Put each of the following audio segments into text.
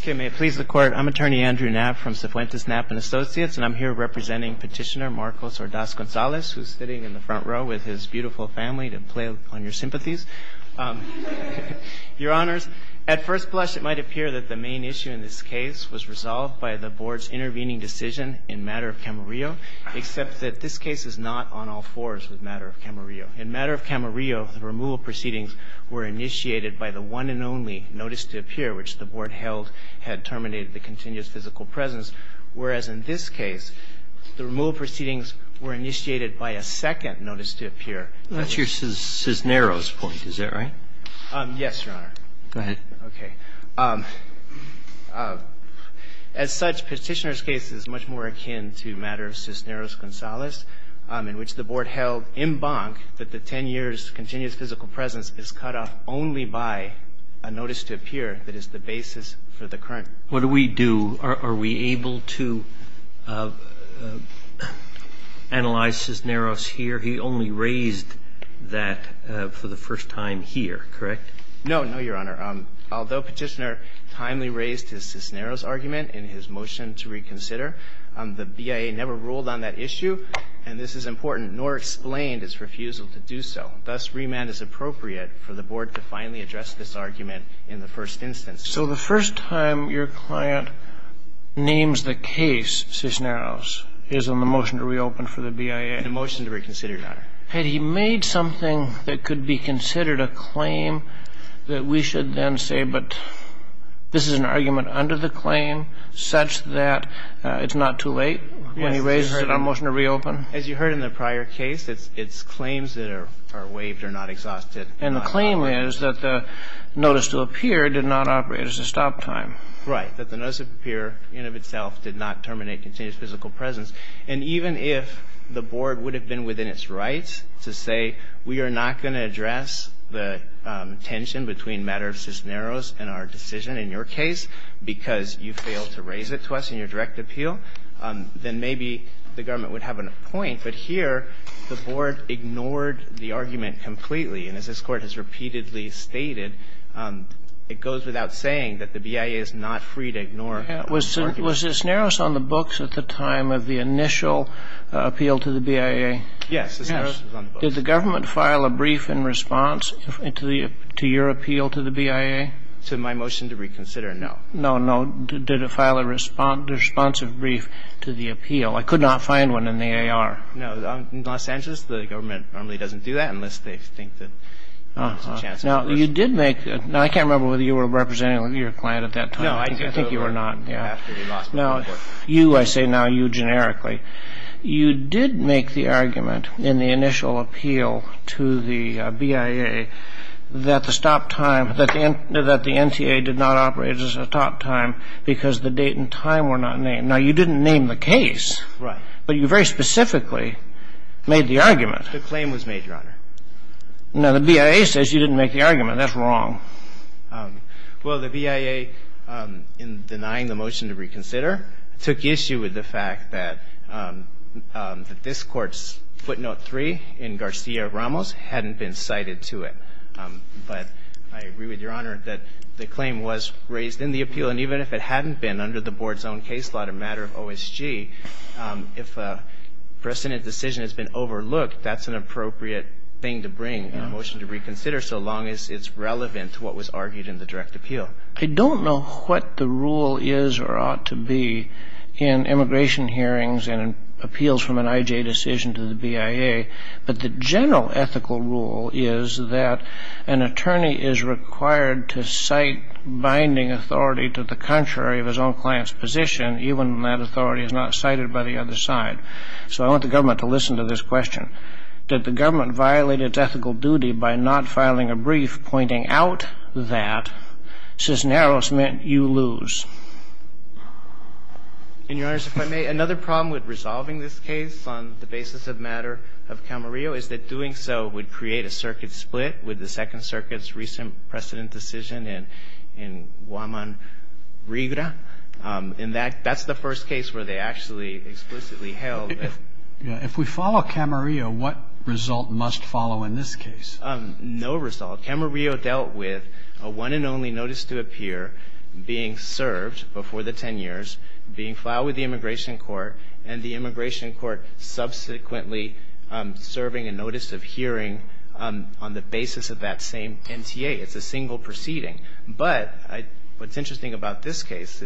Okay, may it please the Court. I'm Attorney Andrew Knapp from Cifuentes Knapp & Associates, and I'm here representing Petitioner Marcos Ordaz-Gonzalez, who's sitting in the front row with his beautiful family to play on your sympathies. Your Honors, at first blush, it might appear that the main issue in this case was resolved by the Board's intervening decision in matter of Camarillo, except that this case is not on all fours with matter of Camarillo. In matter of Camarillo, the removal proceedings were initiated by the one and only notice to appear, which the Board held had terminated the continuous physical presence, whereas in this case, the removal proceedings were initiated by a second notice to appear. That's your Cisneros point, is that right? Yes, Your Honor. Go ahead. Okay. As such, Petitioner's case is much more akin to matter of Cisneros-Gonzalez, in which the Board held en banc that the 10 years continuous physical presence is cut off only by a notice to appear that is the basis for the current. What do we do? Are we able to analyze Cisneros here? He only raised that for the first time here, correct? No, no, Your Honor. Although Petitioner timely raised his Cisneros argument in his motion to reconsider, the BIA never ruled on that issue, and this is important, nor explained its refusal to do so. Thus, remand is appropriate for the Board to finally address this argument in the first instance. So the first time your client names the case Cisneros is in the motion to reopen for the BIA? In the motion to reconsider, Your Honor. Had he made something that could be considered a claim that we should then say, but this is an argument under the claim such that it's not too late when he raises it in a motion to reopen? As you heard in the prior case, it's claims that are waived or not exhausted. And the claim is that the notice to appear did not operate as a stop time. Right. That the notice to appear in and of itself did not terminate continuous physical presence. And even if the Board would have been within its rights to say we are not going to address the tension between matters of Cisneros and our decision in your case because you failed to raise it to us in your direct appeal, then maybe the government would have a point. But here the Board ignored the argument completely. And as this Court has repeatedly stated, it goes without saying that the BIA is not free to ignore the argument. Was Cisneros on the books at the time of the initial appeal to the BIA? Yes, Cisneros is on the books. Did the government file a brief in response to your appeal to the BIA? To my motion to reconsider, no. No, no. Did it file a responsive brief to the appeal? I could not find one in the AR. No. In Los Angeles, the government normally doesn't do that unless they think that there's a chance of a reversal. Uh-huh. Now, you did make the – now, I can't remember whether you were representing your client at that time. No, I think – I think you were not, yeah. No, you, I say now, you generically. You did make the argument in the initial appeal to the BIA that the stop time – that the NTA did not operate at a stop time because the date and time were not named. Now, you didn't name the case. Right. But you very specifically made the argument. The claim was made, Your Honor. Now, the BIA says you didn't make the argument. That's wrong. Well, the BIA, in denying the motion to reconsider, took issue with the fact that this Court's footnote 3 in Garcia-Ramos hadn't been cited to it. But I agree with Your Honor that the claim was raised in the appeal. And even if it hadn't been under the Board's own case law, the matter of OSG, if a precedent decision has been overlooked, that's an appropriate thing to bring in a motion to reconsider so long as it's relevant to what was argued in the direct appeal. I don't know what the rule is or ought to be in immigration hearings and appeals from an I.J. decision to the BIA. But the general ethical rule is that an attorney is required to cite binding authority to the contrary of his own client's position, even when that authority is not cited by the other side. So I want the government to listen to this question. And I agree with Your Honor that the government violated its ethical duty by not filing a brief pointing out that Cisneros meant you lose. And, Your Honors, if I may, another problem with resolving this case on the basis of matter of Camarillo is that doing so would create a circuit split with the Second Circuit's recent precedent decision in Guaman Regra. And that's the first case where they actually explicitly held that. If we follow Camarillo, what result must follow in this case? No result. Camarillo dealt with a one and only notice to appear being served before the 10 years, being filed with the Immigration Court, and the Immigration Court subsequently serving a notice of hearing on the basis of that same NTA. It's a single proceeding. But what's interesting about this case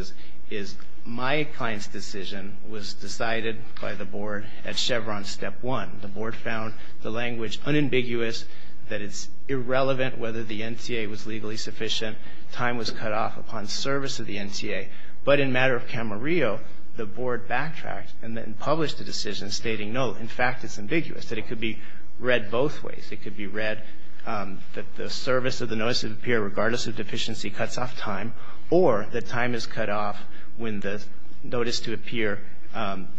is my client's decision was decided by the Board at Chevron Step 1. The Board found the language unambiguous, that it's irrelevant whether the NTA was legally sufficient, time was cut off upon service of the NTA. But in matter of Camarillo, the Board backtracked and then published a decision stating, no, in fact, it's ambiguous, that it could be read both ways. It could be read that the service of the notice of appear, regardless of deficiency, cuts off time, or that time is cut off when the notice to appear,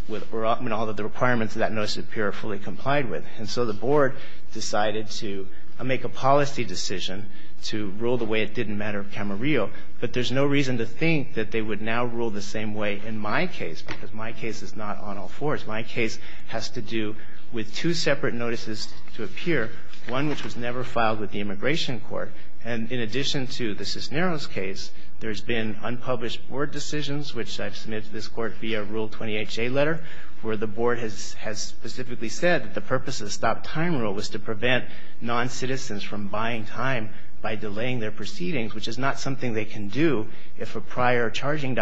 when all of the requirements of that notice of appear are fully complied with. And so the Board decided to make a policy decision to rule the way it did in matter of Camarillo. But there's no reason to think that they would now rule the same way in my case, because my case is not on all fours. My case has to do with two separate notices to appear, one which was never filed with the Immigration Court. And in addition to the Cisneros case, there's been unpublished Board decisions, which I've submitted to this Court via Rule 20HA letter, where the Board has specifically said that the purpose of the stop-time rule was to prevent noncitizens from buying time by delaying their proceedings, which is not something they can do if a prior proceeding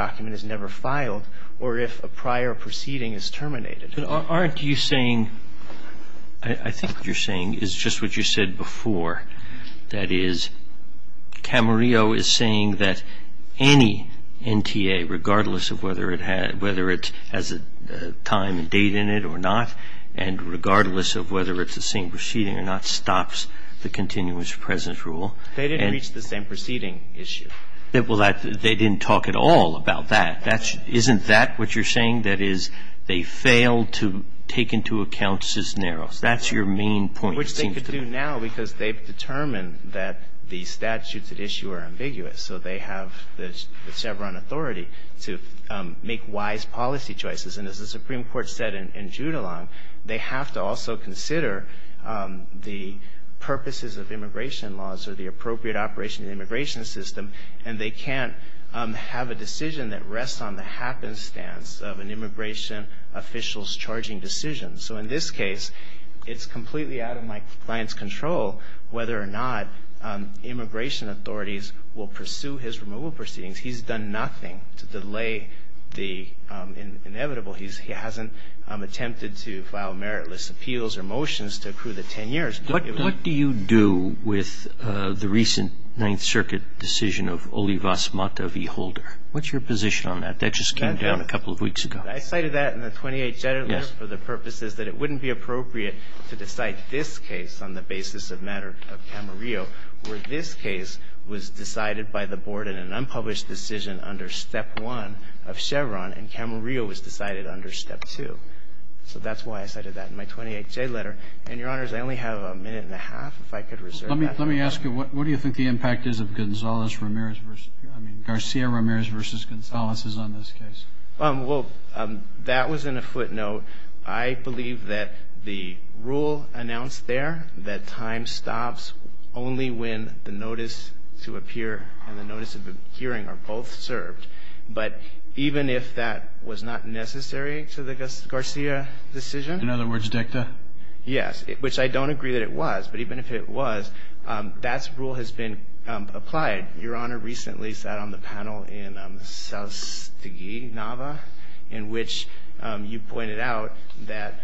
is terminated. Roberts. Aren't you saying, I think what you're saying is just what you said before, that is, Camarillo is saying that any NTA, regardless of whether it has a time and date in it or not, and regardless of whether it's the same proceeding or not, stops the continuous presence rule. They didn't reach the same proceeding issue. Well, they didn't talk at all about that. Isn't that what you're saying, that is, they failed to take into account Cisneros? That's your main point, it seems to me. Which they could do now, because they've determined that the statutes at issue are ambiguous. So they have the Chevron authority to make wise policy choices. And as the Supreme Court said in Judulon, they have to also consider the purposes of immigration laws or the appropriate operation of the immigration system. And they can't have a decision that rests on the happenstance of an immigration official's charging decision. So in this case, it's completely out of my client's control whether or not immigration authorities will pursue his removal proceedings. He's done nothing to delay the inevitable. He hasn't attempted to file meritless appeals or motions to accrue the 10 years. What do you do with the recent Ninth Circuit decision of Olivas Mata v. Holder? What's your position on that? That just came down a couple of weeks ago. I cited that in the 28J letter for the purposes that it wouldn't be appropriate to decide this case on the basis of matter of Camarillo, where this case was decided by the Board in an unpublished decision under Step 1 of Chevron, and Camarillo was decided under Step 2. So that's why I cited that in my 28J letter. And, Your Honors, I only have a minute and a half, if I could reserve that. Let me ask you, what do you think the impact is of Gonzales-Ramirez v. Garcia-Ramirez v. Gonzales is on this case? Well, that was in a footnote. I believe that the rule announced there, that time stops only when the notice to appear and the notice of appearing are both served. But even if that was not necessary to the Garcia decision. In other words, dicta? Yes. Which I don't agree that it was. But even if it was, that rule has been applied. Your Honor recently sat on the panel in Soustegui, Nava, in which you pointed out that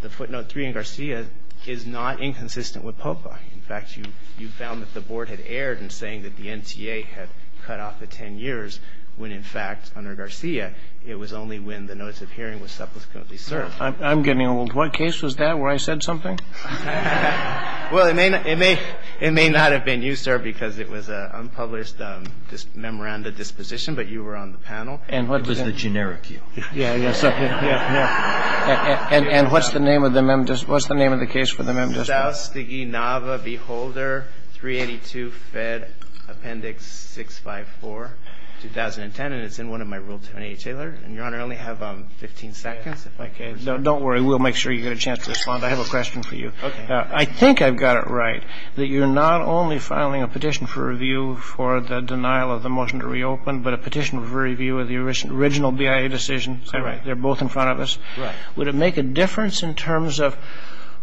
the footnote 3 in Garcia is not inconsistent with POPA. In fact, you found that the Board had erred in saying that the NTA had cut off the 10 years, when, in fact, under Garcia, it was only when the notice of hearing was supposedly served. I'm getting old. What case was that, where I said something? Well, it may not have been you, sir, because it was an unpublished memoranda disposition, but you were on the panel. It was the generic you. Yeah, yeah. And what's the name of the case for the Member District? Soustegui, Nava, Beholder, 382 Fed Appendix 654, 2010. And it's in one of my Rule 28 Taylor. And, Your Honor, I only have 15 seconds. Okay. Don't worry. We'll make sure you get a chance to respond. I have a question for you. Okay. I think I've got it right, that you're not only filing a petition for review for the denial of the motion to reopen, but a petition for review of the original BIA decision. That's right. They're both in front of us. Right. Would it make a difference in terms of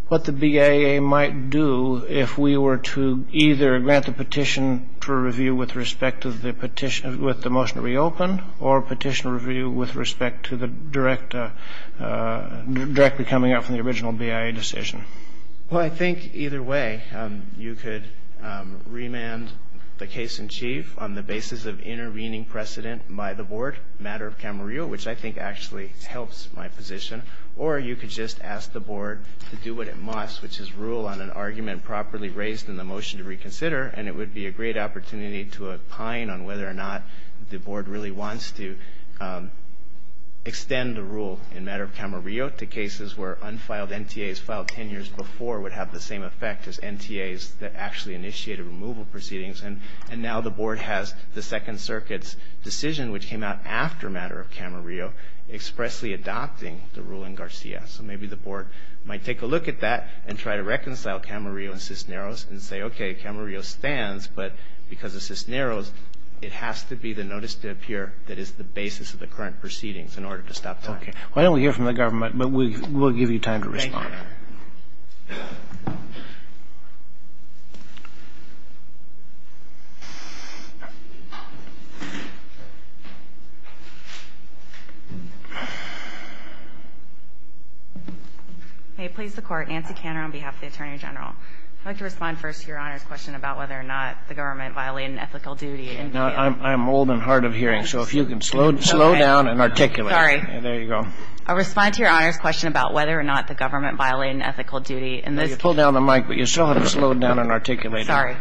what the BIA might do if we were to either grant the petition for review with respect to the petition with the motion to reopen or petition review with respect to the direct, directly coming out from the original BIA decision? Well, I think either way. You could remand the case in chief on the basis of intervening precedent by the Board, matter of Camarillo, which I think actually helps my position. Or you could just ask the Board to do what it must, which is rule on an argument properly raised in the motion to reconsider. And it would be a great opportunity to opine on whether or not the Board really wants to extend the rule in matter of Camarillo to cases where unfiled NTAs filed 10 years before would have the same effect as NTAs that actually initiated removal proceedings. And now the Board has the Second Circuit's decision, which came out after matter of Camarillo, expressly adopting the rule in Garcia. So maybe the Board might take a look at that and try to reconcile Camarillo and Cisneros and say, okay, Camarillo stands, but because of Cisneros, it has to be the notice to appear that is the basis of the current proceedings in order to stop time. Okay. Well, I don't hear from the government, but we'll give you time to respond. Thank you. May it please the Court, I'm Nancy Cantor on behalf of the Attorney General. I'd like to respond first to Your Honor's question about whether or not the government violated an ethical duty. Now, I'm old and hard of hearing, so if you can slow down and articulate. Sorry. There you go. I respond to Your Honor's question about whether or not the government violated an ethical duty. You pulled down the mic, but you still have to slow down and articulate. Sorry.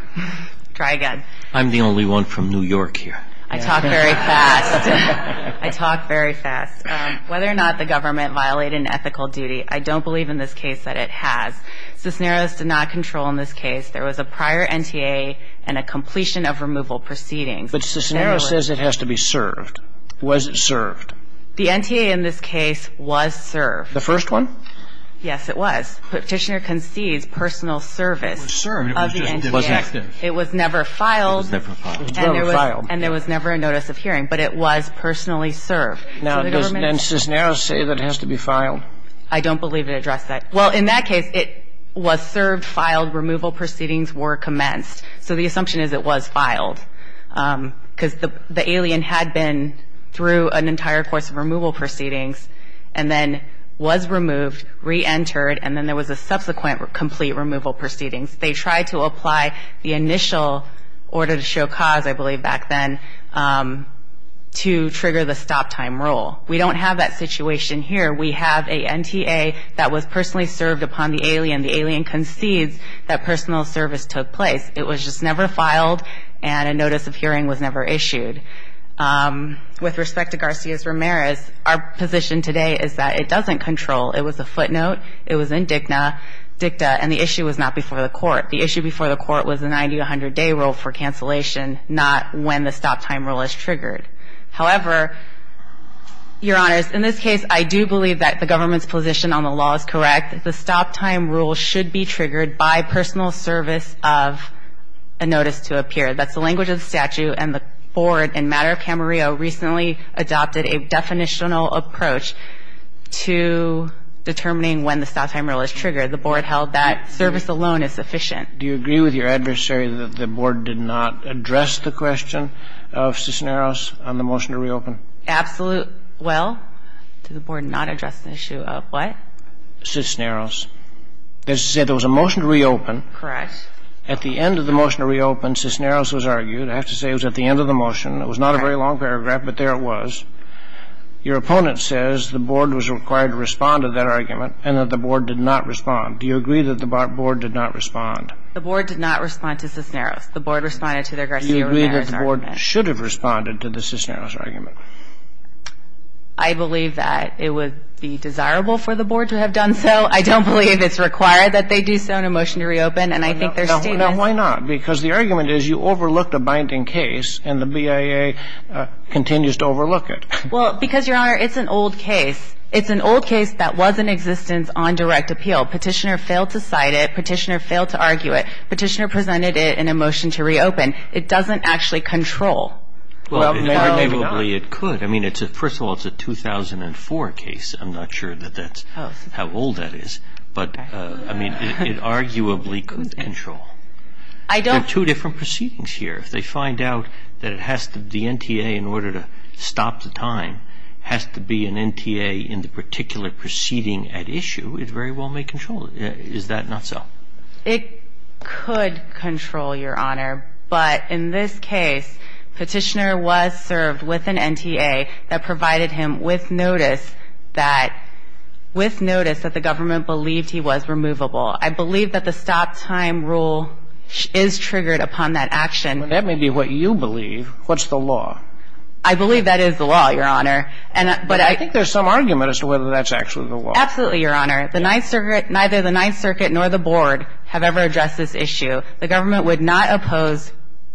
Try again. I'm the only one from New York here. I talk very fast. I talk very fast. Whether or not the government violated an ethical duty, I don't believe in this case that it has. Cisneros did not control in this case. There was a prior NTA and a completion of removal proceedings. But Cisneros says it has to be served. Was it served? The NTA in this case was served. The first one? Yes, it was. Petitioner concedes personal service of the NTA. It was served. It was never filed. It was never filed. It was never filed. And there was never a notice of hearing, but it was personally served. Now, does Cisneros say that it has to be filed? No. I don't believe it addressed that. Well, in that case, it was served, filed. Removal proceedings were commenced. So the assumption is it was filed because the alien had been through an entire course of removal proceedings and then was removed, reentered, and then there was a subsequent complete removal proceedings. They tried to apply the initial order to show cause, I believe, back then to trigger the stop time rule. We don't have that situation here. We have a NTA that was personally served upon the alien. The alien concedes that personal service took place. It was just never filed, and a notice of hearing was never issued. With respect to Garcia-Ramirez, our position today is that it doesn't control. It was a footnote. It was in dicta, and the issue was not before the court. The issue before the court was a 90-to-100-day rule for cancellation, not when the stop time rule is triggered. However, Your Honors, in this case, I do believe that the government's position on the law is correct. The stop time rule should be triggered by personal service of a notice to appear. That's the language of the statute, and the Board in matter of Camarillo recently adopted a definitional approach to determining when the stop time rule is triggered. The Board held that service alone is sufficient. Do you agree with your adversary that the Board did not address the question of Cisneros on the motion to reopen? Absolutely. Well, did the Board not address the issue of what? Cisneros. They said there was a motion to reopen. Correct. At the end of the motion to reopen, Cisneros was argued. I have to say it was at the end of the motion. It was not a very long paragraph, but there it was. Your opponent says the Board was required to respond to that argument and that the Board did not respond. Do you agree that the Board did not respond? The Board did not respond to Cisneros. The Board responded to their Garcia-Ramirez argument. Do you agree that the Board should have responded to the Cisneros argument? I believe that it would be desirable for the Board to have done so. I don't believe it's required that they do so in a motion to reopen, and I think there's still an argument. Now, why not? Because the argument is you overlooked a binding case, and the BIA continues to overlook it. Well, because, Your Honor, it's an old case. It's an old case that was in existence on direct appeal. Petitioner failed to cite it. Petitioner failed to argue it. Petitioner presented it in a motion to reopen. It doesn't actually control. Well, maybe not. Well, arguably it could. I mean, first of all, it's a 2004 case. I'm not sure that that's how old that is. But, I mean, it arguably could control. There are two different proceedings here. If they find out that the NTA, in order to stop the time, has to be an NTA in the particular proceeding at issue, it very well may control it. Is that not so? It could control, Your Honor. But in this case, Petitioner was served with an NTA that provided him with notice that the government believed he was removable. I believe that the stop time rule is triggered upon that action. Well, that may be what you believe. What's the law? I believe that is the law, Your Honor. But I think there's some argument as to whether that's actually the law. Absolutely, Your Honor. The Ninth Circuit, neither the Ninth Circuit nor the Board have ever addressed this issue. The government would not oppose.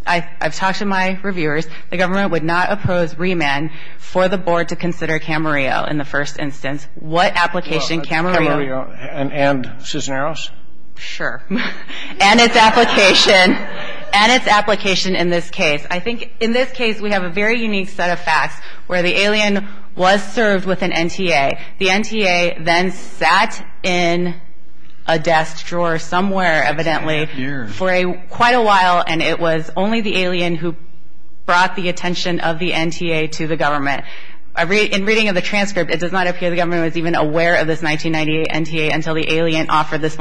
I've talked to my reviewers. The government would not oppose remand for the Board to consider Camarillo in the first instance. What application Camarillo. Camarillo and Cisneros? Sure. And its application. And its application in this case. I think in this case, we have a very unique set of facts where the alien was served with an NTA. The NTA then sat in a desk drawer somewhere, evidently, for quite a while, and it was only the alien who brought the attention of the NTA to the government. In reading of the transcript, it does not appear the government was even aware of this 1998 NTA until the alien offered this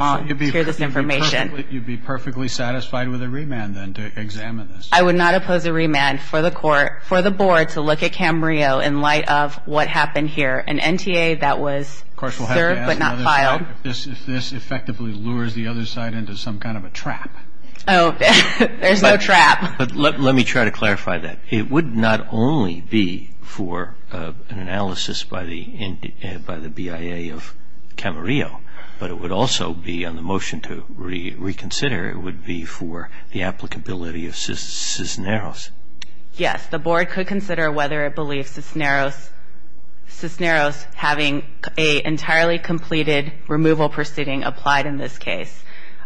information. You'd be perfectly satisfied with a remand then to examine this? I would not oppose a remand for the Court, for the Board, to look at Camarillo in light of what happened here. An NTA that was served but not filed. Of course, we'll have to ask another side if this effectively lures the other side into some kind of a trap. Oh, there's no trap. But let me try to clarify that. It would not only be for an analysis by the BIA of Camarillo, but it would also be on the motion to reconsider, it would be for the applicability of Cisneros. Yes. The Board could consider whether it believes Cisneros having an entirely completed removal proceeding applied in this case.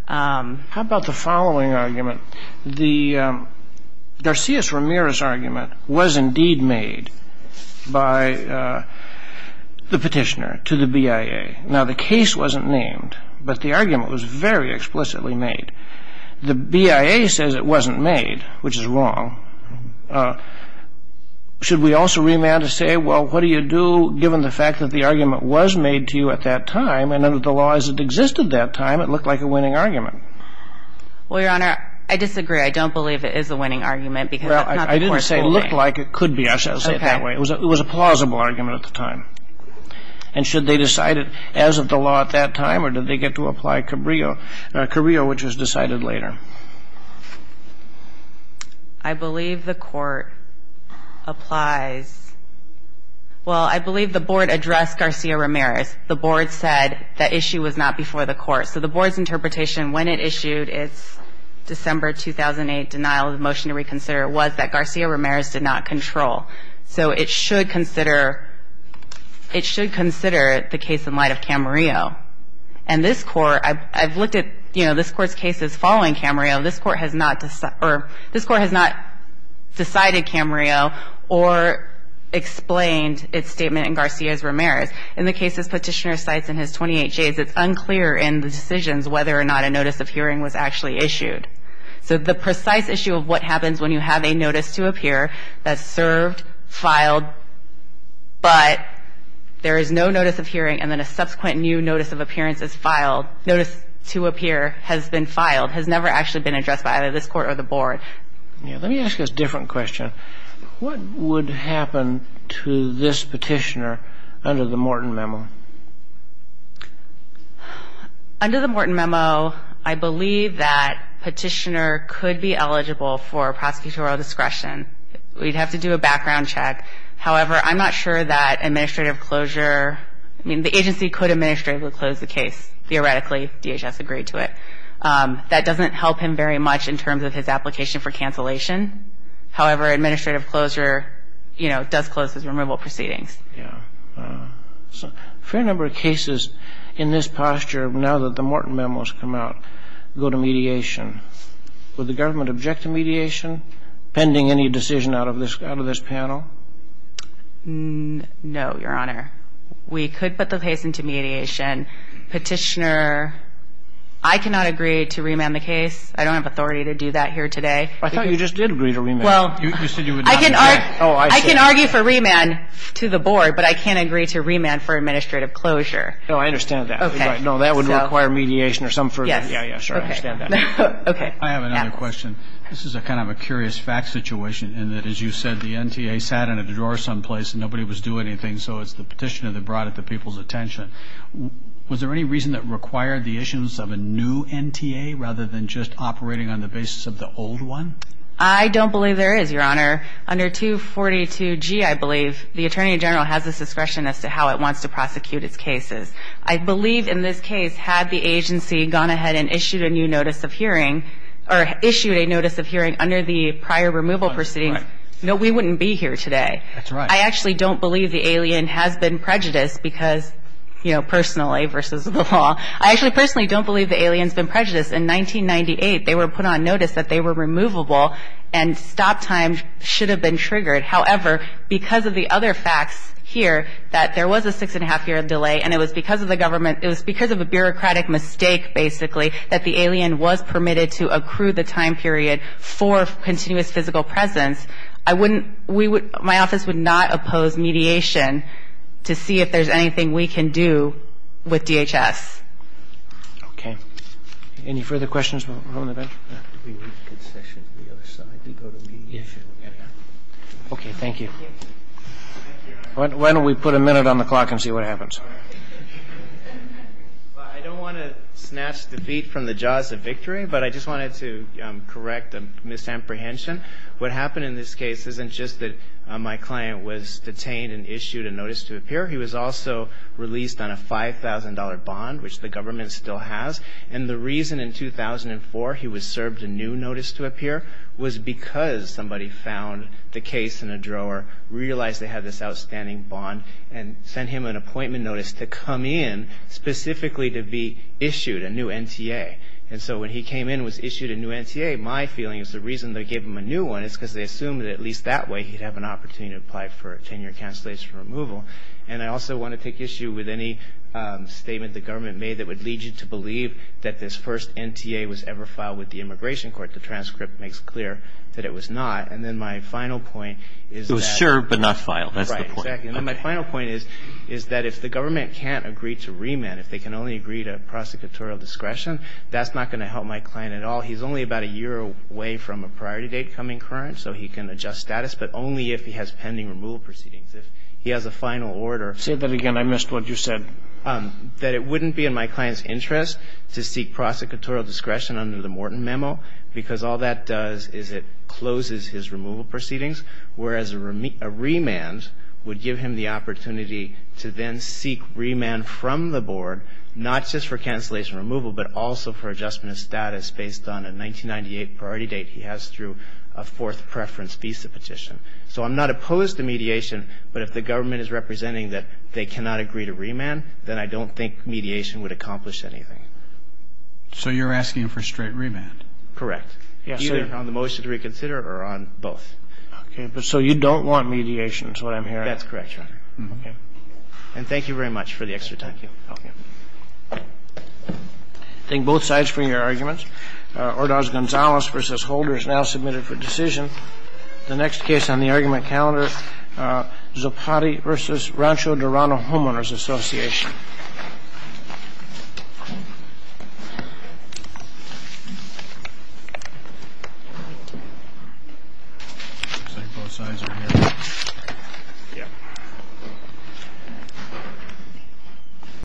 How about the following argument? The Garcia-Ramirez argument was indeed made by the petitioner to the BIA. Now, the case wasn't named, but the argument was very explicitly made. The BIA says it wasn't made, which is wrong. Should we also remand to say, well, what do you do given the fact that the argument was made to you at that time and under the law as it existed at that time, it looked like a winning argument? Well, Your Honor, I disagree. I don't believe it is a winning argument because that's not the course of the way. Well, I didn't say it looked like it could be. I said it that way. It was a plausible argument at the time. And should they decide it as of the law at that time or did they get to apply Camarillo, Camarillo, which was decided later? I believe the Court applies. Well, I believe the Board addressed Garcia-Ramirez. The Board said the issue was not before the Court. So the Board's interpretation when it issued its December 2008 denial of the motion to reconsider was that Garcia-Ramirez did not control. So it should consider the case in light of Camarillo. And this Court, I've looked at, you know, this Court's cases following Camarillo. This Court has not decided Camarillo or explained its statement in Garcia-Ramirez. In the cases Petitioner cites in his 28Js, it's unclear in the decisions whether or not a notice of hearing was actually issued. So the precise issue of what happens when you have a notice to appear that's served, filed, but there is no notice of hearing and then a subsequent new notice of appearance is filed, notice to appear has been filed, has never actually been addressed by either this Court or the Board. Let me ask you a different question. What would happen to this Petitioner under the Morton Memo? Under the Morton Memo, I believe that Petitioner could be eligible for prosecutorial discretion. We'd have to do a background check. However, I'm not sure that administrative closure, I mean, the agency could administratively close the case. Theoretically, DHS agreed to it. That doesn't help him very much in terms of his application for cancellation. However, administrative closure, you know, does close his removal proceedings. Yeah. So a fair number of cases in this posture, now that the Morton Memo has come out, go to mediation. Would the government object to mediation pending any decision out of this panel? No, Your Honor. We could put the case into mediation. Petitioner, I cannot agree to remand the case. I don't have authority to do that here today. I thought you just did agree to remand. Well, I can argue for remand to the Board, but I can't agree to remand for administrative closure. No, I understand that. Okay. No, that would require mediation or some further. Yeah, yeah, sure, I understand that. Okay. I have another question. This is kind of a curious fact situation in that, as you said, the NTA sat in a drawer someplace and nobody was doing anything, so it's the petitioner that brought it to people's attention. Was there any reason that required the issuance of a new NTA rather than just operating on the basis of the old one? I don't believe there is, Your Honor. Under 242G, I believe, the Attorney General has the discretion as to how it wants to prosecute its cases. I believe in this case had the agency gone ahead and issued a new notice of hearing or issued a notice of hearing under the prior removal proceedings, no, we wouldn't be here today. That's right. I actually don't believe the alien has been prejudiced because, you know, personally versus the law. I actually personally don't believe the alien has been prejudiced. In 1998, they were put on notice that they were removable and stop time should have been triggered. However, because of the other facts here that there was a six-and-a-half-year delay and it was because of the government it was because of a bureaucratic mistake, basically, that the alien was permitted to accrue the time period for continuous physical presence, I wouldn't, we would, my office would not oppose mediation to see if there's anything we can do with DHS. Any further questions, Your Honor? Okay. Thank you. Why don't we put a minute on the clock and see what happens? I don't want to snatch defeat from the jaws of victory, but I just wanted to correct a misapprehension. What happened in this case isn't just that my client was detained and issued a notice to appear. He was also released on a $5,000 bond, which the government still has. And the reason in 2004 he was served a new notice to appear was because somebody found the case in a drawer, realized they had this outstanding bond, and sent him an appointment notice to come in specifically to be issued a new NTA. And so when he came in and was issued a new NTA, my feeling is the reason they gave him a new one is because they assumed that at least that way he'd have an opportunity to apply for a 10-year cancellation removal. And I also want to take issue with any statement the government made that would lead you to believe that this first NTA was ever filed with the Immigration Court. The transcript makes clear that it was not. And then my final point is that — It was served but not filed. That's the point. Right. Exactly. And then my final point is that if the government can't agree to remand, if they can only agree to prosecutorial discretion, that's not going to help my client at all. He's only about a year away from a priority date coming current, so he can adjust status, but only if he has pending removal proceedings. If he has a final order — Say that again. I missed what you said. That it wouldn't be in my client's interest to seek prosecutorial discretion under the Morton memo because all that does is it closes his removal proceedings, whereas a remand would give him the opportunity to then seek remand from the board, not just for cancellation removal but also for adjustment of status based on a 1998 priority date he has through a fourth preference visa petition. So I'm not opposed to mediation, but if the government is representing that they cannot agree to remand, then I don't think mediation would accomplish anything. So you're asking for straight remand? Correct. Yes, sir. Either on the motion to reconsider or on both. Okay. But so you don't want mediation is what I'm hearing. That's correct, Your Honor. Okay. And thank you very much for the extra time. Thank you. Okay. Thank both sides for your arguments. Ordaz-Gonzalez v. Holder is now submitted for decision. The next case on the argument calendar, Zopatti v. Rancho Dorado Homeowners Association. Looks like both sides are here. Yeah.